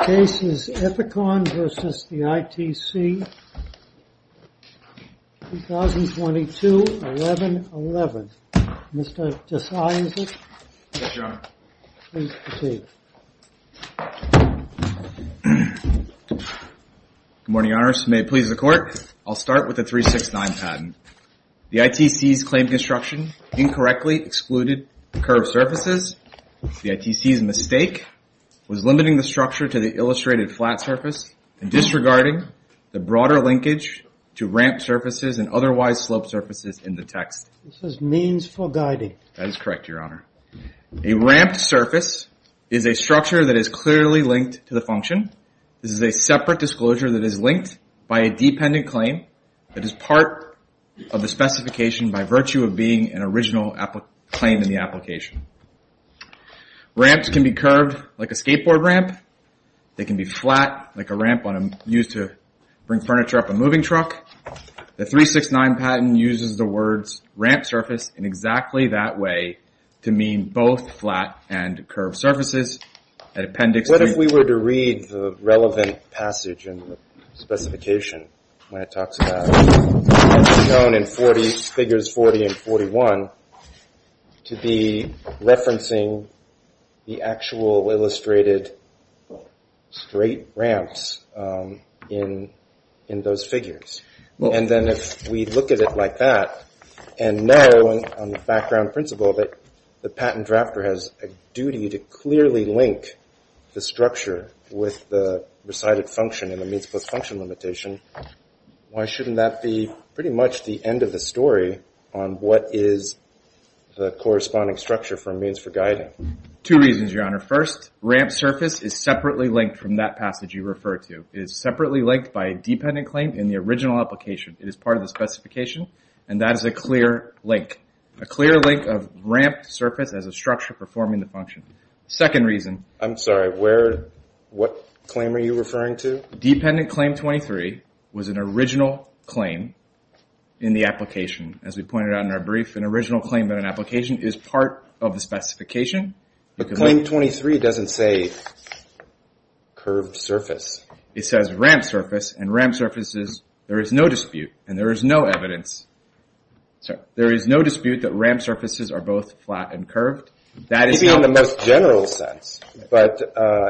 The case is Ithicon v. ITC, 2022-11-11. Mr. Tesai is it? Yes, your honor. Please proceed. Good morning, your honors. May it please the court. I'll start with the 369 patent. The ITC's claimed construction incorrectly excluded curved surfaces. The ITC's mistake was limiting the structure to the illustrated flat surface and disregarding the broader linkage to ramped surfaces and otherwise sloped surfaces in the text. This is means for guiding. That is correct, your honor. A ramped surface is a structure that is clearly linked to the function. This is a separate disclosure that is linked by a dependent claim that is part of the specification by virtue of being an original claim in the application. Ramps can be curved like a skateboard ramp. They can be flat like a ramp used to bring furniture up a moving truck. The 369 patent uses the words ramped surface in exactly that way to mean both flat and curved surfaces. What if we were to read the relevant passage in the actual illustrated straight ramps in those figures? And then if we look at it like that and know on the background principle that the patent drafter has a duty to clearly link the structure with the resided function and the means plus function limitation, why shouldn't that be pretty much the end of the story on what is the corresponding structure for means for guiding? Two reasons, your honor. First, ramped surface is separately linked from that passage you referred to. It is separately linked by a dependent claim in the original application. It is part of the specification and that is a clear link. A clear link of ramped surface as a structure performing the function. Second reason. I'm sorry, what claim are you referring to? Dependent claim 23 was an original claim in the application. As we pointed out in our brief, an original claim in an application is part of the specification. Claim 23 doesn't say curved surface. It says ramped surface and ramped surfaces, there is no dispute and there is no evidence. There is no dispute that ramped surfaces are both flat and curved. Maybe in the most general sense, but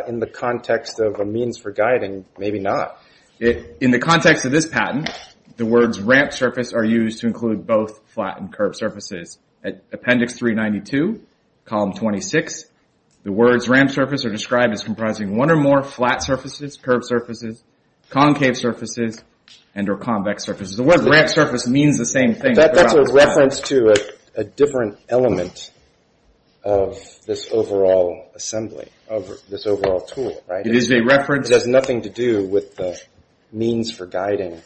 in the context of a means for guiding, maybe not. In the context of this patent, the words ramped surface are used to include both flat and curved surfaces. Appendix 392, column 26, the words ramped surface are described as comprising one or more flat surfaces, curved surfaces, concave surfaces, and or convex surfaces. The word ramped surface means the same thing. That's a reference to a different element of this overall assembly, of this overall tool. It is a reference. It has nothing to do with the means for guiding.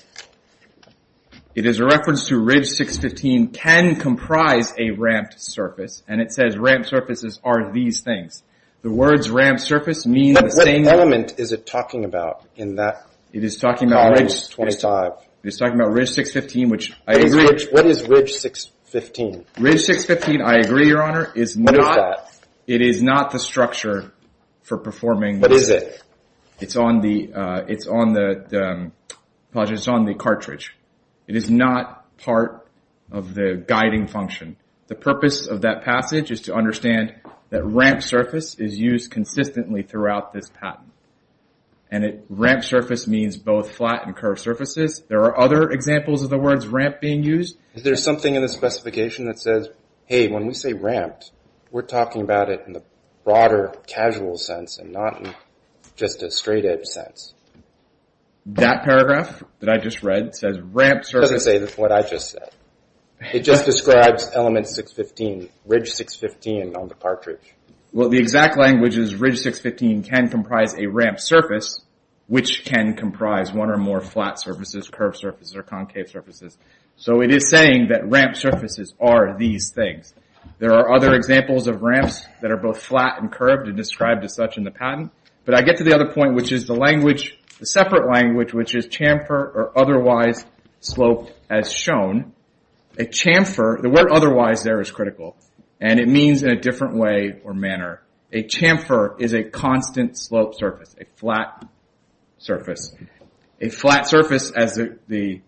It is a reference to Ridge 615 can comprise a ramped surface and it says ramped surfaces are these things. The words ramped surface means the same thing. What element is it talking about in that column 25? It is talking about Ridge 615, which I agree. What is Ridge 615? Ridge 615, I agree, Your Honor, is not the structure for performing this. What is it? It's on the cartridge. It is not part of the guiding function. The purpose of that passage is to understand that ramped surface is used consistently throughout this patent. Ramped surface means both flat and curved surfaces. There are other examples of the words ramped being used. Is there something in the specification that when we say ramped, we are talking about it in the broader casual sense and not in just a straight edge sense? That paragraph that I just read says ramped surface. It doesn't say what I just said. It just describes element 615, Ridge 615 on the cartridge. The exact language is Ridge 615 can comprise a ramped surface, which can comprise one or more flat surfaces, curved surfaces. It is saying that ramped surfaces are these things. There are other examples of ramps that are both flat and curved and described as such in the patent. I get to the other point, which is the separate language, which is chamfer or otherwise slope as shown. The word otherwise there is critical. It means in a different way or manner. A chamfer is a constant slope surface, a flat surface. A flat surface, as the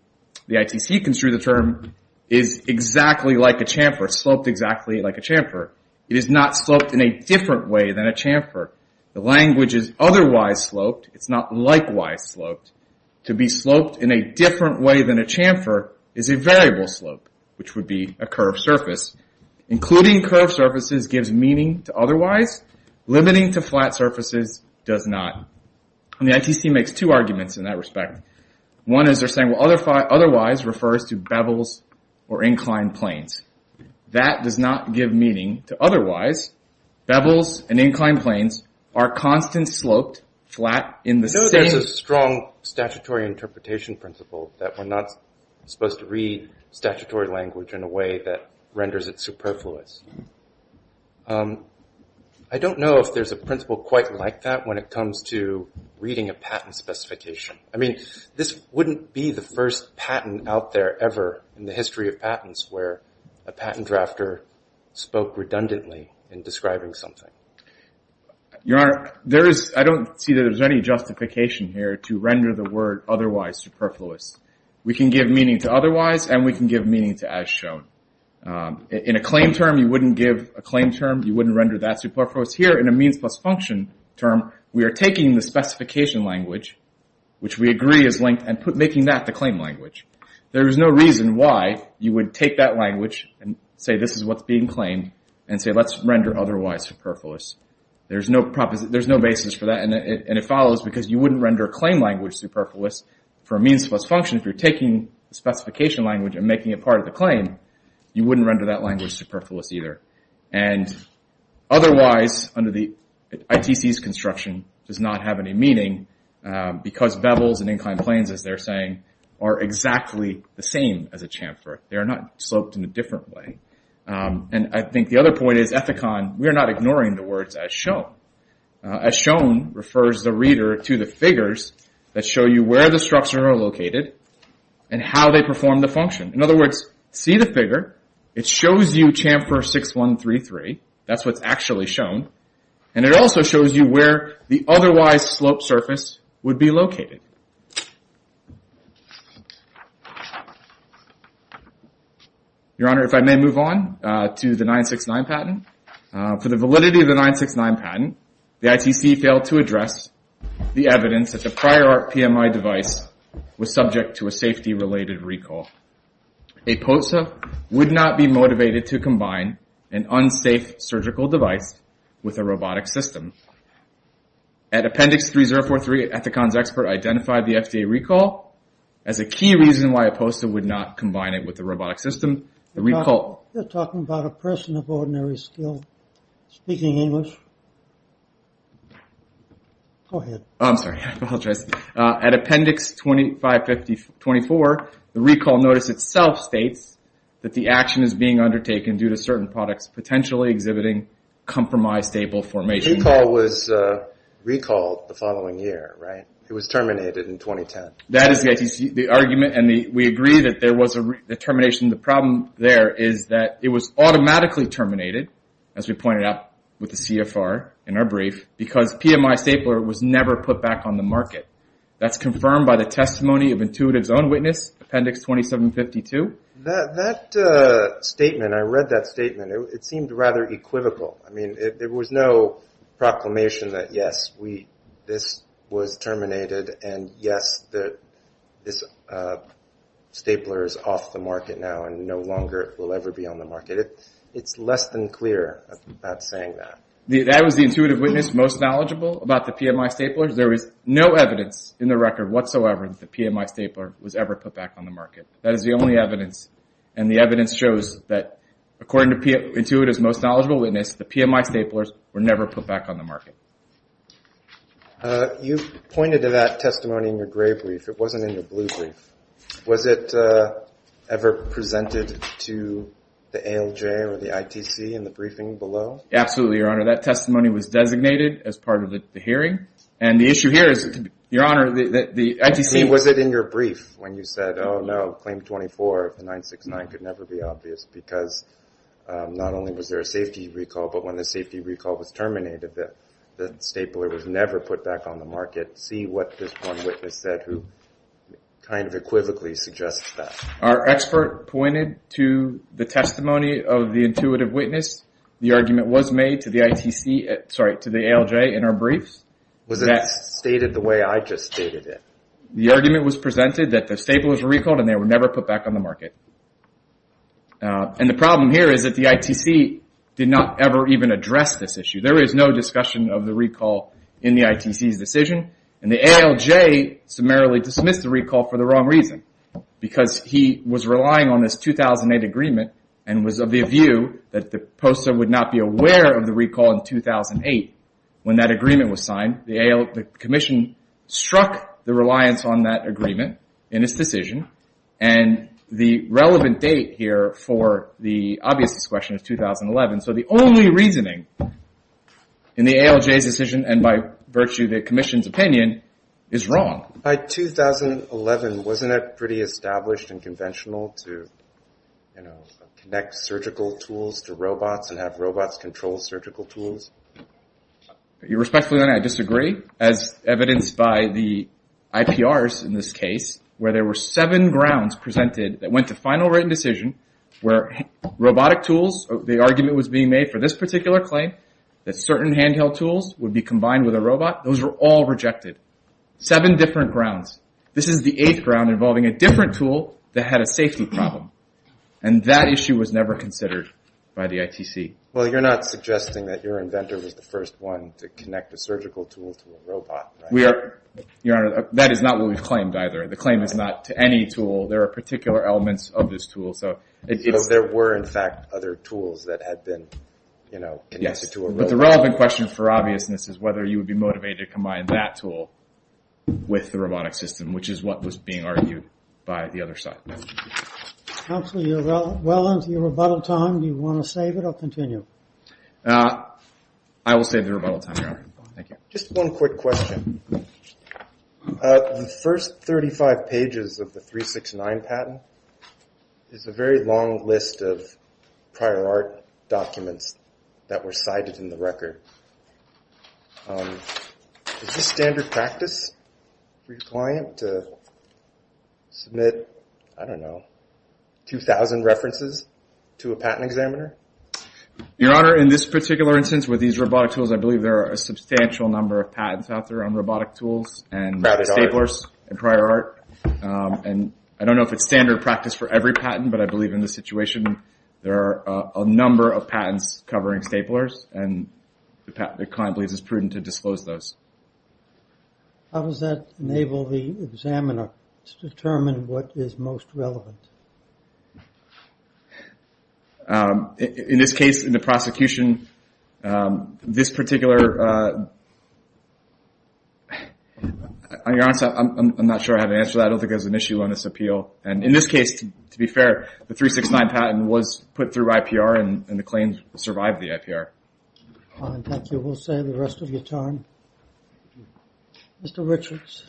ITC construed the term, is exactly like a chamfer, sloped exactly like a chamfer. It is not sloped in a different way than a chamfer. The language is otherwise sloped. It is not likewise sloped. To be sloped in a different way than a chamfer is a variable slope, which would be a curved surface. Including curved surfaces gives meaning to otherwise. Limiting to flat surfaces does not. The ITC makes two arguments in that respect. One is they are saying otherwise refers to bevels or inclined planes. That does not give meaning to otherwise. Bevels and inclined planes are constant sloped flat in the same... No, there is a strong statutory interpretation principle that we are not supposed to read I don't know if there is a principle quite like that when it comes to reading a patent specification. This wouldn't be the first patent out there ever in the history of patents where a patent drafter spoke redundantly in describing something. Your Honor, I don't see that there is any justification here to render the word otherwise superfluous. We can give meaning to otherwise and we can give meaning to as shown. In a claim term you wouldn't render that superfluous. Here in a means plus function term we are taking the specification language, which we agree is linked, and making that the claim language. There is no reason why you would take that language and say this is what is being claimed and say let's render otherwise superfluous. There is no basis for that and it follows because you wouldn't render a claim language superfluous for a means plus function if you are taking the specification language and making it part of the claim. You wouldn't render that language superfluous either. Otherwise under the ITC's construction does not have any meaning because bevels and inclined planes as they are saying are exactly the same as a chamfer. They are not sloped in a different way. I think the other point is Ethicon, we are not ignoring the words as shown. As shown refers the reader to the figures that show you where the structure are located and how they perform the function. In other words, see the figure, it shows you chamfer 6133, that is what is actually shown, and it also shows you where the otherwise sloped surface would be located. Your Honor, if I may move on to the 969 patent. For the validity of the 969 patent, the ITC failed to address the evidence that the prior art PMI device was subject to a safety related recall. A POSA would not be motivated to combine an unsafe surgical device with a robotic system. At appendix 3043, Ethicon's expert identified the FDA recall as a key reason why a POSA would not combine it with a robotic system. You are talking about a person of ordinary skill speaking English. Go ahead. I'm sorry, I apologize. At appendix 2554, the recall notice itself states that the action is being undertaken due to certain products potentially exhibiting compromised stable formation. The recall was recalled the following year, right? It was terminated in 2010. That is the argument and we agree that there was a termination. The problem there is that it was automatically terminated, as we pointed out with the CFR in our brief, because PMI stapler was never put back on the market. That is confirmed by the testimony of Intuitive's own witness, appendix 2752. That statement, I read that statement, it seemed rather equivocal. There was no proclamation that yes, this was terminated and yes, this stapler is off the market now and no longer will ever be on the market. It's less than clear about saying that. That was the Intuitive witness most knowledgeable about the PMI stapler? There is no evidence in the record whatsoever that the PMI stapler was ever put back on the market. That is the only evidence and the evidence shows that according to Intuitive's most knowledgeable witness, the PMI staplers were never put back on the market. You pointed to that testimony in your gray brief. It wasn't in your blue brief. Was it ever presented to the ALJ or the ITC in the briefing below? Absolutely, your honor. That testimony was designated as part of the hearing and the issue here is, your honor, the ITC- Was it in your brief when you said, oh no, claim 24 of the 969 could never be obvious because not only was there a safety recall, but when the safety recall was terminated, the stapler was never put back on the market. See what this one witness said who kind of equivocally suggests that. Our expert pointed to the testimony of the Intuitive witness. The argument was made to the ITC, sorry, to the ALJ in our briefs. Was it stated the way I just stated it? The argument was presented that the stapler was recalled and they were never put back on the market. There is no discussion of the recall in the ITC's decision and the ALJ summarily dismissed the recall for the wrong reason because he was relying on this 2008 agreement and was of the view that the poster would not be aware of the recall in 2008 when that agreement was signed. The commission struck the reliance on that agreement in its decision and the relevant date here for the obviousness question is 2011. So the only reasoning in the ALJ's decision and by virtue of the commission's opinion is wrong. By 2011, wasn't it pretty established and conventional to connect surgical tools to robots and have robots control surgical tools? I respectfully disagree as evidenced by the IPRs in this case where there were seven grounds presented that went to final written decision where robotic tools, the argument was being made for this particular claim that certain handheld tools would be combined with a robot, those were all rejected. Seven different grounds. This is the eighth ground involving a different tool that had a safety problem and that issue was never considered by the ITC. You're not suggesting that your inventor was the first one to connect a surgical tool to a robot. That is not what we've claimed either. The claim is not to any tool. There are particular elements of this tool. There were in fact other tools that had been connected to a robot. But the relevant question for obviousness is whether you would be motivated to combine that tool with the robotic system which is what was being argued by the other side. Counselor, you're well into your rebuttal time. Do you want to save it or continue? I will save the rebuttal time, Your Honor. Thank you. Just one quick question. The first 35 pages of the 369 patent is a very long list of prior art documents that were cited in the record. Is this standard practice for your client to submit, I don't know, 2,000 references to a patent examiner? Your Honor, in this particular instance with these robotic tools, I believe there are a substantial number of patents out there on robotic tools and staplers and prior art. I don't know if it's standard practice for every patent, but I believe in this situation there are a number of patents covering staplers. The client believes it's prudent to disclose those. How does that enable the examiner to determine what is most relevant? In this case, in the prosecution, this particular... On your answer, I'm not sure I have an answer to that. I don't think there's an issue on this appeal. And in this case, to be fair, the 369 patent was put through IPR and the claims survived the IPR. Thank you. We'll save the rest of your time. Mr. Richards.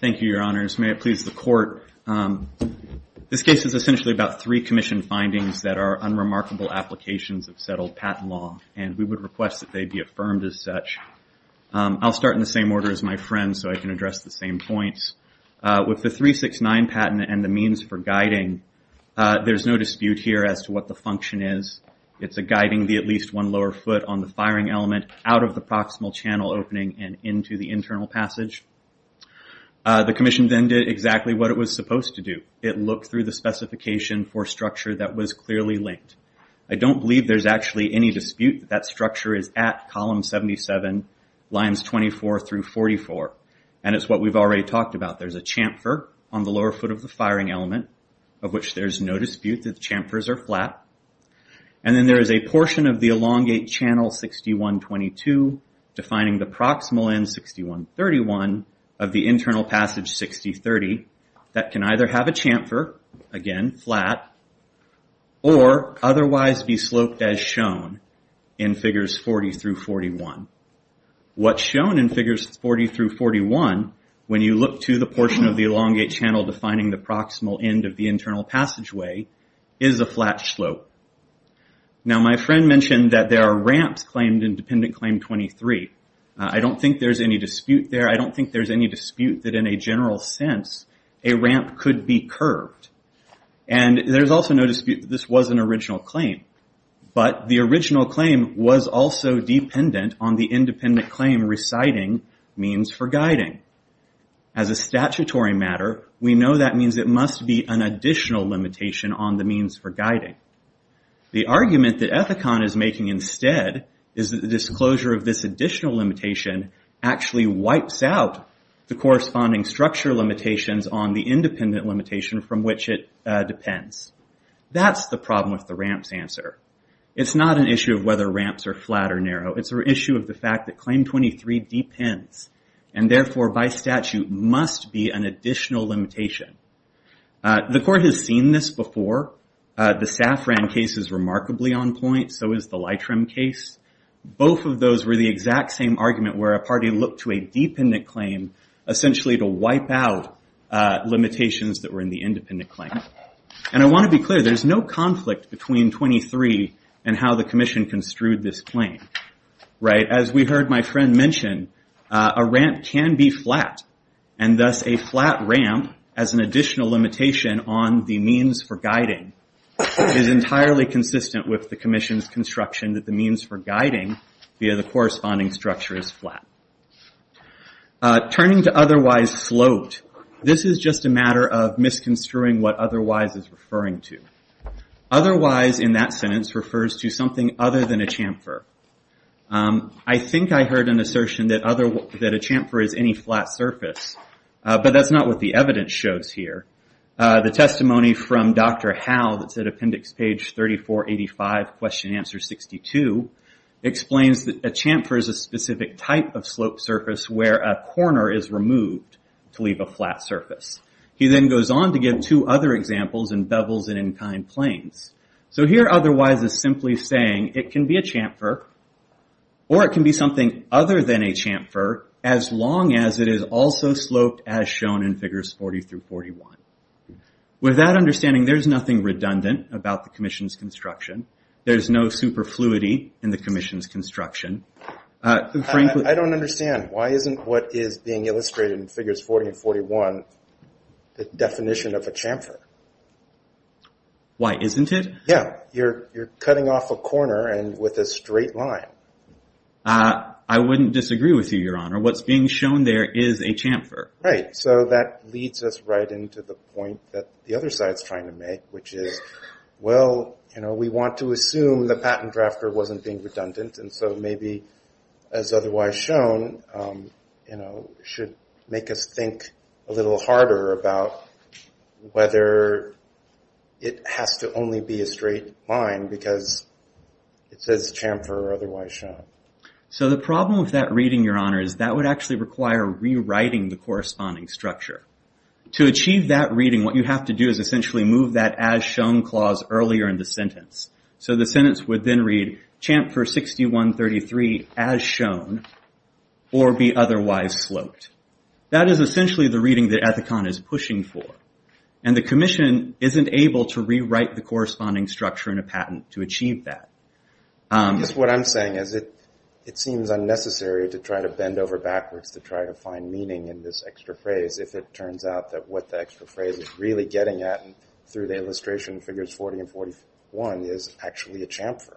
Thank you, Your Honors. May it please the Court. This case is essentially about three commission findings that are unremarkable applications of settled patent law, and we would request that they be affirmed as such. I'll start in the same order as my friend so I can address the same points. With the 369 patent and the means for guiding, there's no dispute here as to what the function is. It's a guiding the at least one lower foot on the firing element out of the proximal channel opening and into the internal passage. The commission then did exactly what it was supposed to do. It looked through the specification for structure that was clearly linked. I don't believe there's actually any dispute that that structure is at column 77, lines 24 through 44. And it's what we've already talked about. There's a chamfer on the lower foot of the firing element, of which there's no dispute that the chamfers are flat. And then there is a portion of the elongate channel 6122 defining the proximal end 6131 of the internal passage 6030 that can either have a chamfer, again, flat, or otherwise be sloped as shown in figures 40 through 41. What's shown in figures 40 through 41, when you look to the portion of the elongate channel defining the proximal end of the internal passageway, is a flat slope. Now, my friend mentioned that there are ramps claimed in any dispute that, in a general sense, a ramp could be curved. And there's also no dispute that this was an original claim. But the original claim was also dependent on the independent claim reciting means for guiding. As a statutory matter, we know that means it must be an additional limitation on the means for guiding. The argument that Ethicon is making instead is that the disclosure of this additional limitation actually wipes out the corresponding structure limitations on the independent limitation from which it depends. That's the problem with the ramps answer. It's not an issue of whether ramps are flat or narrow. It's an issue of the fact that Claim 23 depends. And therefore, by statute, must be an additional limitation. The court has seen this before. The Safran case is remarkably on point. So is the Lightrim case. Both of those were the exact same argument where a party looked to a dependent claim, essentially, to wipe out limitations that were in the independent claim. And I want to be clear, there's no conflict between 23 and how the Commission construed this claim. As we heard my friend mention, a ramp can be flat. And thus, a flat ramp as an additional limitation on the means for guiding is entirely consistent with the Commission's construction that the means for guiding via the corresponding structure is flat. Turning to otherwise sloped, this is just a matter of misconstruing what otherwise is referring to. Otherwise, in that sentence, refers to something other than a chamfer. I think I heard an assertion that a chamfer is any flat surface. But that's not what the evidence shows here. The testimony from Dr. Howe, that's at appendix page 3485, question answer 62, explains that a chamfer is a specific type of sloped surface where a corner is removed to leave a flat surface. He then goes on to give two other examples in Bevels and in Kine Plains. So here, otherwise, is simply saying it can be a chamfer, or it can be something other than a chamfer, as long as it is also sloped as shown in figures 40 through 41. With that understanding, there's nothing redundant about the Commission's construction. There's no superfluity in the Commission's construction. I don't understand. Why isn't what is being illustrated in figures 40 and 41 the definition of a chamfer? Why isn't it? Yeah. You're cutting off a corner and with a straight line. I wouldn't disagree with you, Your Honor. What's being shown there is a chamfer. Right. So that leads us right into the point that the other side's trying to make, which is, well, we want to assume the patent drafter wasn't being redundant. And so maybe, as otherwise shown, should make us think a little harder about whether it has to only be a straight line because it says chamfer or otherwise shown. So the problem with that reading, Your Honor, is that would actually require rewriting the corresponding structure. To achieve that reading, what you have to do is essentially move that earlier in the sentence. So the sentence would then read, chamfer 6133 as shown or be otherwise sloped. That is essentially the reading that Ethicon is pushing for. And the Commission isn't able to rewrite the corresponding structure in a patent to achieve that. I guess what I'm saying is it seems unnecessary to try to bend over backwards to try to find meaning in this extra phrase if it turns out that what the extra phrase is really through the illustration figures 40 and 41 is actually a chamfer.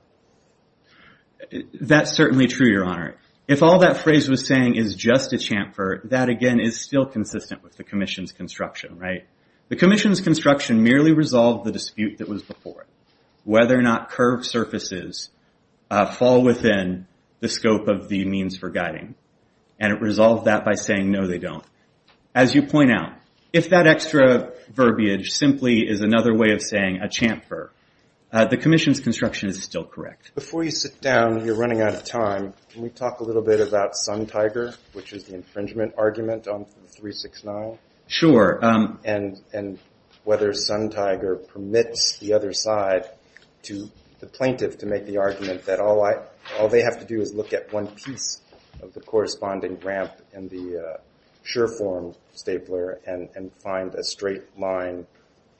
That's certainly true, Your Honor. If all that phrase was saying is just a chamfer, that again is still consistent with the Commission's construction, right? The Commission's construction merely resolved the dispute that was before it, whether or not curved surfaces fall within the scope of the means for guiding. And it resolved that by saying, no, they don't. As you point out, if that extra verbiage simply is another way of saying a chamfer, the Commission's construction is still correct. Before you sit down, you're running out of time. Can we talk a little bit about Sun Tiger, which is the infringement argument on 369? Sure. And whether Sun Tiger permits the other side to the plaintiff to make the argument that all they have to do is look at one piece of the corresponding ramp in the sure form stapler and find a straight line,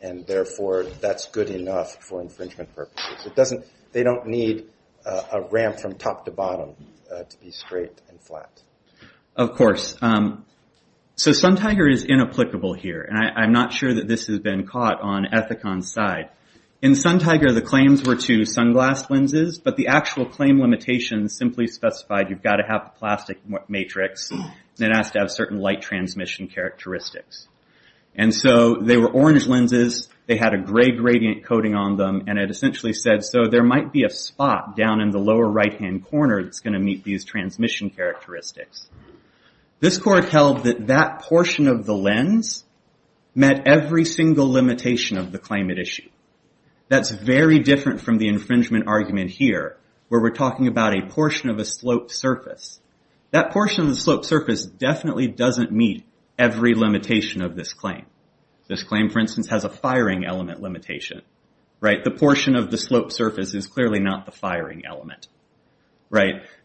and therefore that's good enough for infringement purposes. They don't need a ramp from top to bottom to be straight and flat. Of course. So Sun Tiger is inapplicable here, and I'm not sure that this has been caught on Ethicon's side. In Sun Tiger, the claims were to sunglass lenses, but the actual claim limitations simply specified you've got to have a plastic matrix that has to have certain light transmission characteristics. And so they were orange lenses. They had a gray gradient coating on them, and it essentially said, so there might be a spot down in the lower right-hand corner that's going to meet these transmission characteristics. This court held that that portion of the lens met every single limitation of the claim it issued. That's very different from the infringement argument here, where we're talking about a portion of a sloped surface. That portion of the sloped surface definitely doesn't meet every limitation of this claim. This claim, for instance, has a firing element limitation. The portion of the sloped surface is clearly not the firing element.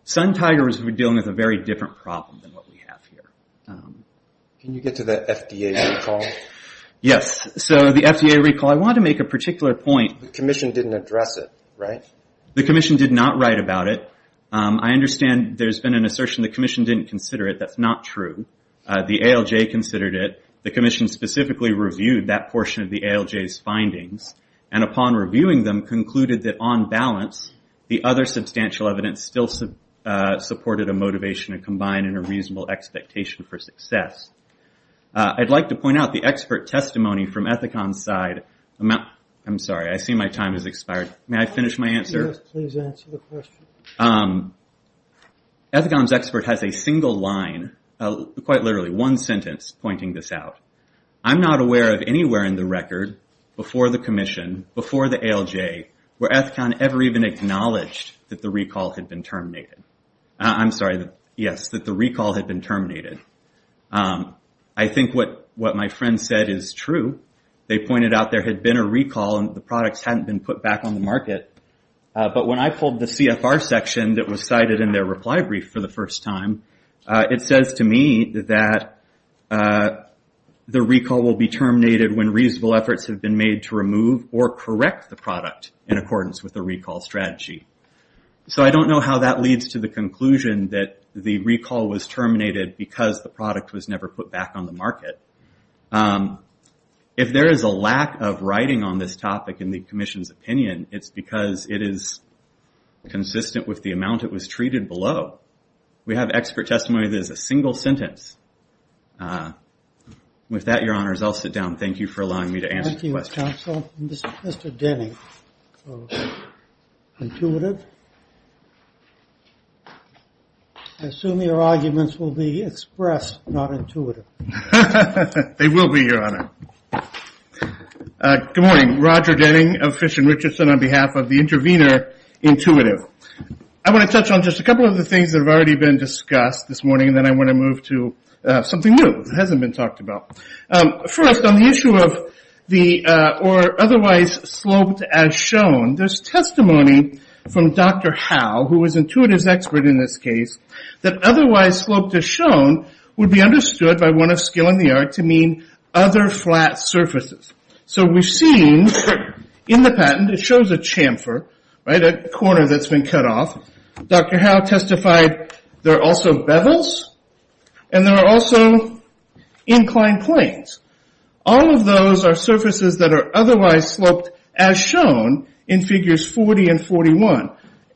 Sun Tiger was dealing with a very different problem than what we have here. Can you get to the FDA recall? Yes. So the FDA recall, I want to make a particular point. The commission didn't address it, right? The commission did not write about it. I understand there's been an assertion the commission didn't consider it. That's not true. The ALJ considered it. The commission specifically reviewed that portion of the ALJ's findings, and upon reviewing them, concluded that on balance, the other substantial evidence still supported a motivation to combine in a reasonable expectation for success. I'd like to point out the expert testimony from Ethicon's side. I'm sorry. I see my time has expired. May I finish my answer? Ethicon's expert has a single line, quite literally one sentence, pointing this out. I'm not aware of anywhere in the record, before the commission, before the ALJ, where Ethicon ever even acknowledged that the recall had been terminated. I'm sorry. Yes, that the recall had been terminated. I think what my friend said is true. They pointed out there had been a recall, and the products hadn't been put back on the market. But when I pulled the CFR section that was cited in their reply brief for the first time, it says to me that the recall will be terminated when reasonable efforts have been made to remove or correct the product in accordance with the recall strategy. I don't know how that leads to the conclusion that the recall was terminated because the product was never put back on the market. If there is a lack of writing on this topic in the commission's opinion, it's because it is consistent with the amount it was treated below. We have expert testimony that is a single sentence. With that, your honors, I'll sit down. Thank you for allowing me to answer the question. Thank you, counsel. Mr. Denning, Intuitive. I assume your arguments will be expressed, not intuitive. They will be, your honor. Good morning. Roger Denning of Fish and Richardson on behalf of the intervener, Intuitive. I want to touch on just a couple of the things that have already been discussed this morning, and then I want to move to something new that hasn't been talked about. First, on the issue of the or otherwise sloped as shown, there's testimony from Dr. Howe, who was Intuitive's expert in this case, that otherwise sloped as shown would be understood by one of skill in the art to mean other flat surfaces. We've seen in the patent, it shows a chamfer, a corner that's been cut off. Dr. Howe testified there are also bevels, and there are also inclined planes. All of those are surfaces that are otherwise sloped as shown in figures 40 and 41.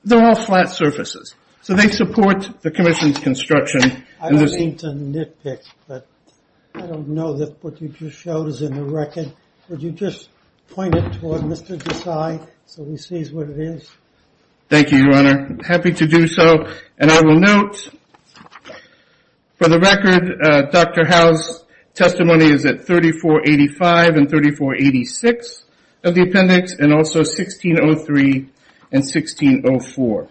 They're all flat surfaces, so they support the commission's construction. I don't mean to nitpick, but I don't know that what you just showed is in the record. Would you just point it toward Mr. Desai so he sees what it is? Thank you, Your Honor. I'm happy to do so, and I will note, for the record, Dr. Howe's testimony is at 3485 and 3486 of the appendix, and also 1603 and 1604.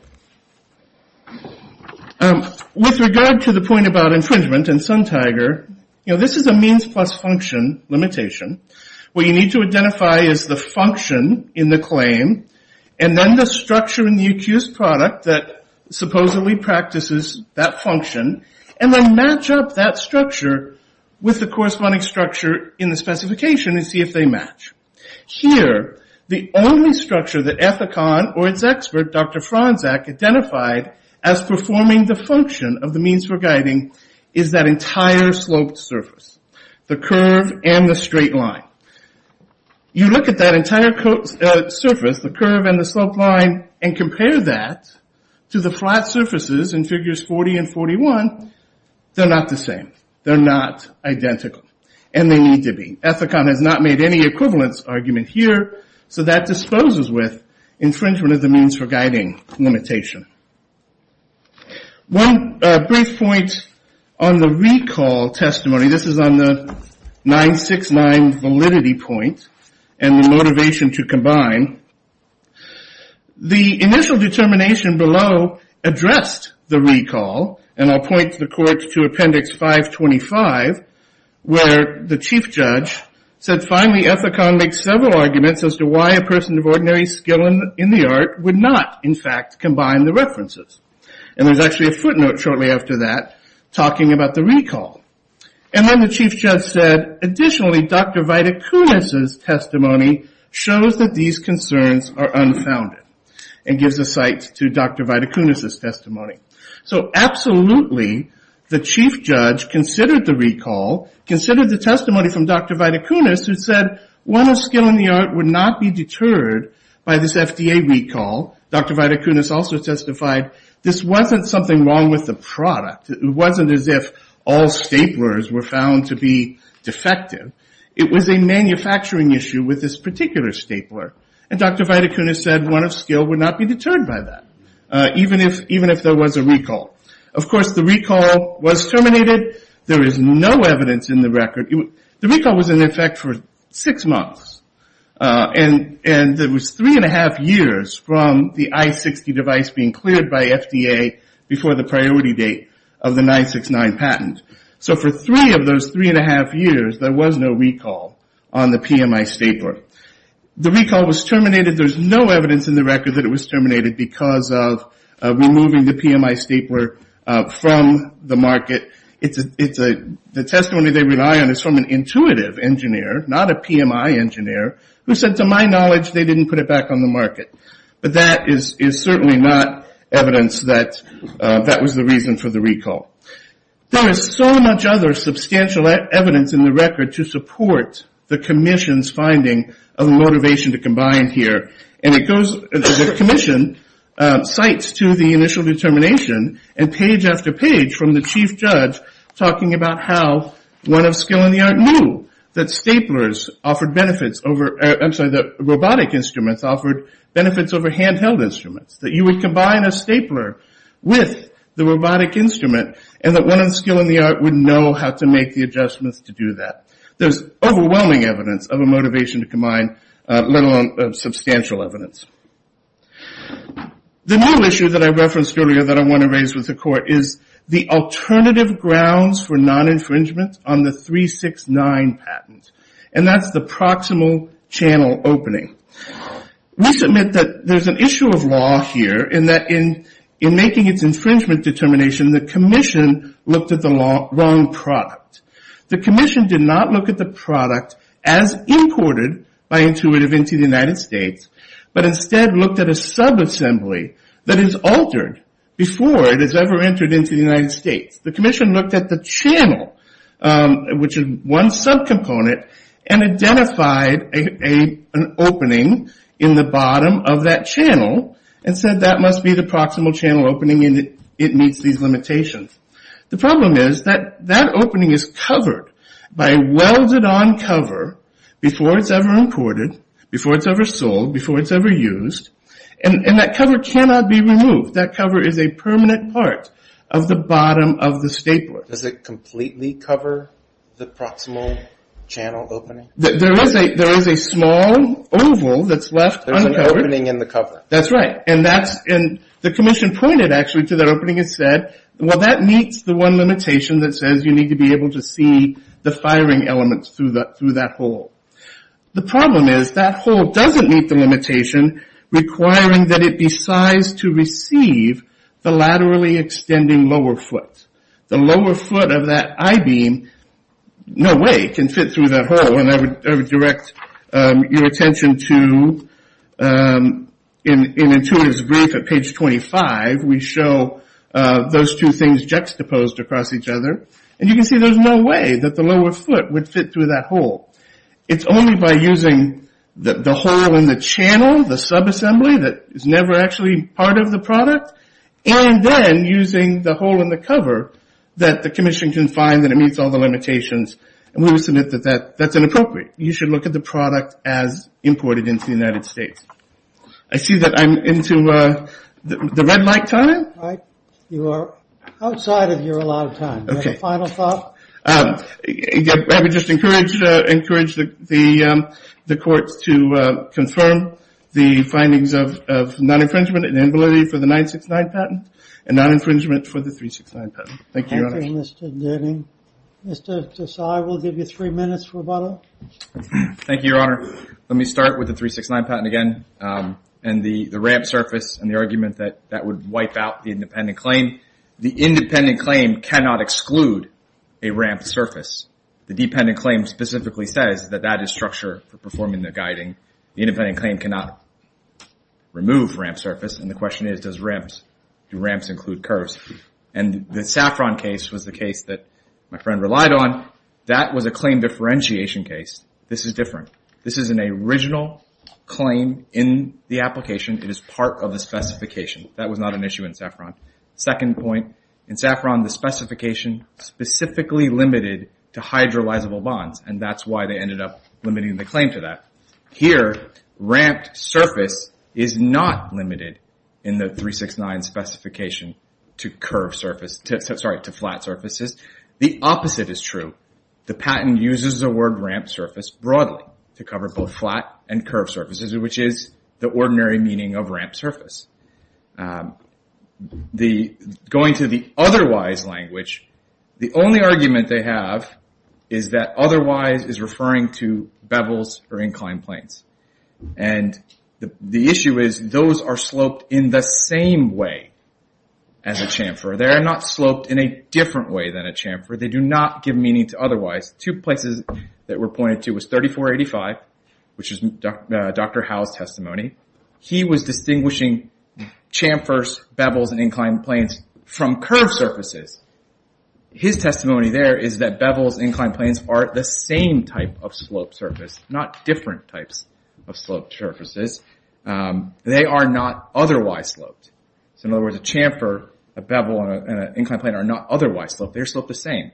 With regard to the point about infringement and sun tiger, this is a means plus function limitation. What you need to identify is the function in the claim, and then the structure in the UQ's product that supposedly practices that function, and then match up that structure with the corresponding structure in the specification and see if they match. Here, the only structure that Ethicon or its expert, Dr. Franczak, identified as performing the function of the means we're guiding is that entire sloped surface, the curve and the straight line. You look at that entire surface, the curve and the slope line, and compare that to the flat surfaces in figures 40 and 41, they're not the same. They're not identical, and they need to be. Ethicon has not made any equivalence argument here, so that disposes with infringement of the means for guiding limitation. One brief point on the recall testimony, this is on the 969 validity point, and the motivation to combine. The initial determination below addressed the recall, and I'll point the court to appendix 525, where the chief judge said, finally Ethicon makes several arguments as to why a person of ordinary skill in the art would not, in fact, combine the references. There's actually a footnote shortly after that talking about the recall. Then the chief judge said, additionally, Dr. Vitacunas' testimony shows that these concerns are unfounded, and gives a site to Dr. Vitacunas' testimony. Absolutely, the chief judge considered the recall, considered the testimony from Dr. Vitacunas, who said, one of skill in the art would not be deterred by this FDA recall. Dr. Vitacunas also testified, this wasn't something wrong with the product. It wasn't as if all staplers were found to be defective. It was a manufacturing issue with this particular stapler, and Dr. Vitacunas said one of skill would not be deterred by that, even if there was a recall. Of course, the recall was terminated. There is no evidence in the record. The recall was in effect for six months, and it was three and a half years from the I60 device being cleared by FDA before the priority date of the 969 patent. So for three of those three and a half years, there was no recall on the PMI stapler. The recall was terminated. There's no evidence in the record that it was terminated because of removing the PMI stapler from the market. The testimony they rely on is from an intuitive engineer, not a PMI engineer, who said, to my knowledge, they didn't put it back on the market. But that is certainly not evidence that that was the reason for the recall. There is so much other substantial evidence in the record to support the commission's finding of motivation to combine here. The commission cites to the initial determination and page after page from the chief judge talking about how one of skill in the art knew that staplers offered benefits over, I'm sorry, that robotic instruments offered benefits over handheld instruments, that you would combine a stapler with the robotic instrument and that one of skill in the art would know how to make the adjustments to do that. There's overwhelming evidence of a motivation to combine, let alone substantial evidence. The new issue that I referenced earlier that I want to raise with the court is the alternative grounds for non-infringement on the 369 patent, and that's the proximal channel opening. We submit that there's an issue of law here in that in making its infringement determination, the commission looked at the wrong product. The commission did not look at the product as imported by Intuitive into the United States, but instead looked at a subassembly that is altered before it is ever entered into the United States. The commission looked at the channel, which is one subcomponent, and identified an opening in the bottom of that channel and said that must be the proximal channel opening and it meets these limitations. The problem is that that opening is covered by a welded-on cover before it's ever imported, before it's ever sold, before it's ever used, and that cover cannot be removed. That cover is a permanent part of the bottom of the stapler. Does it completely cover the proximal channel opening? There is a small oval that's left uncovered. There's an opening in the cover. That's right, and the commission pointed actually to that opening and said, well, that meets the one limitation that says you need to be able to see the firing elements through that hole. The problem is that hole doesn't meet the limitation requiring that it be sized to receive the laterally extending lower foot. The lower foot of that I-beam, no way, can fit through that hole, and I would direct your attention to, in Intuitive's brief at page 25, we show those two things juxtaposed across each other, and you can see there's no way that the lower foot would fit through that hole. It's only by using the hole in the channel, the sub-assembly that is never actually part of the product, and then using the hole in the cover that the commission can find that it meets all the limitations, and we will submit that that's inappropriate. You should look at the product as imported into the United States. I see that I'm into the red light time. Right, you are outside of your allotted time. Okay. Final thought? I would just encourage the courts to confirm the findings of non-infringement and amnibility for the 969 patent and non-infringement for the 369 patent. Thank you, Your Honor. Thank you, Mr. Denning. Mr. Tsai, we'll give you three minutes for rebuttal. Thank you, Your Honor. Let me start with the 369 patent again, and the ramp surface and the argument that would wipe out the independent claim. The independent claim cannot exclude a ramp surface. The dependent claim specifically says that that is structure for performing the guiding. The independent claim cannot remove ramp surface, and the question is, do ramps include curves? The Saffron case was the case that my friend relied on. That was a claim differentiation case. This is different. This is an original claim in the application. It is part of the specification. That was not an issue in Saffron. Second point, in Saffron, the specification specifically limited to hydrolyzable bonds, and that's why they ended up limiting the claim to that. Here, ramped surface is not limited in the 369 specification to flat surfaces. The opposite is true. The patent uses the word ramped surface broadly to cover both flat and curved surfaces, which is the ordinary meaning of ramped surface. Going to the otherwise language, the only argument they have is that otherwise is referring to bevels or inclined planes. The issue is those are sloped in the same way as a chamfer. They are not sloped in a different way than a chamfer. They do not give meaning to otherwise. Two places that were pointed to was 3485, which is Dr. Howell's testimony. He was distinguishing chamfers, bevels, and inclined planes from curved surfaces. His testimony there is that bevels and inclined planes are the same type of sloped surface, not different types of sloped surfaces. They are not otherwise sloped. In other words, a chamfer, a bevel, and an inclined plane are not otherwise sloped. They are sloped the same.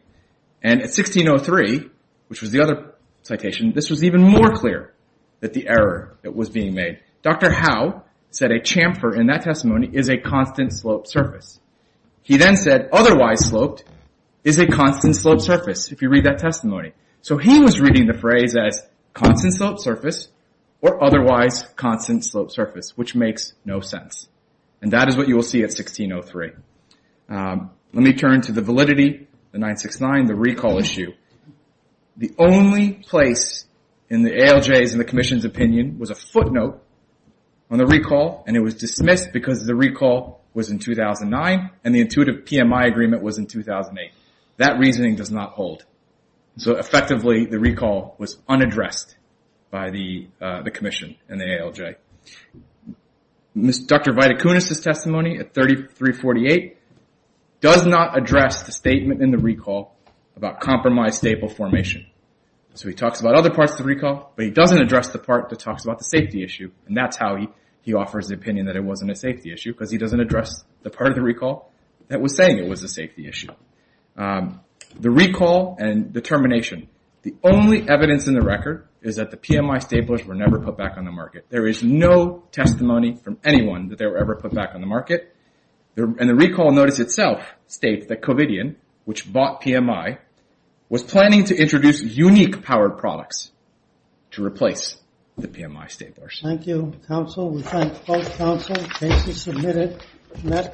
At 1603, which was the other citation, this was even more clear that the error that was being made Dr. Howell said a chamfer in that testimony is a constant sloped surface. He then said otherwise sloped is a constant sloped surface if you read that testimony. He was reading the phrase as constant sloped surface or otherwise constant sloped surface, which makes no sense. That is what you will see at 1603. Let me turn to the validity, the 969, the recall issue. The only place in the ALJ's and the Commission's opinion was a footnote on the recall. It was dismissed because the recall was in 2009 and the intuitive PMI agreement was in 2008. That reasoning does not hold. Effectively, the recall was unaddressed by the Commission and the ALJ. Dr. Viticunis' testimony at 3348 does not address the statement in the recall He talks about other parts of the recall, but he doesn't address the part that talks about the safety issue. And that's how he offers the opinion that it wasn't a safety issue because he doesn't address the part of the recall that was saying it was a safety issue. The recall and the termination, the only evidence in the record is that the PMI staplers were never put back on the market. There is no testimony from anyone that they were ever put back on the market. And the recall notice itself states that Covidian, which bought PMI, was planning to introduce unique powered products. To replace the PMI staplers.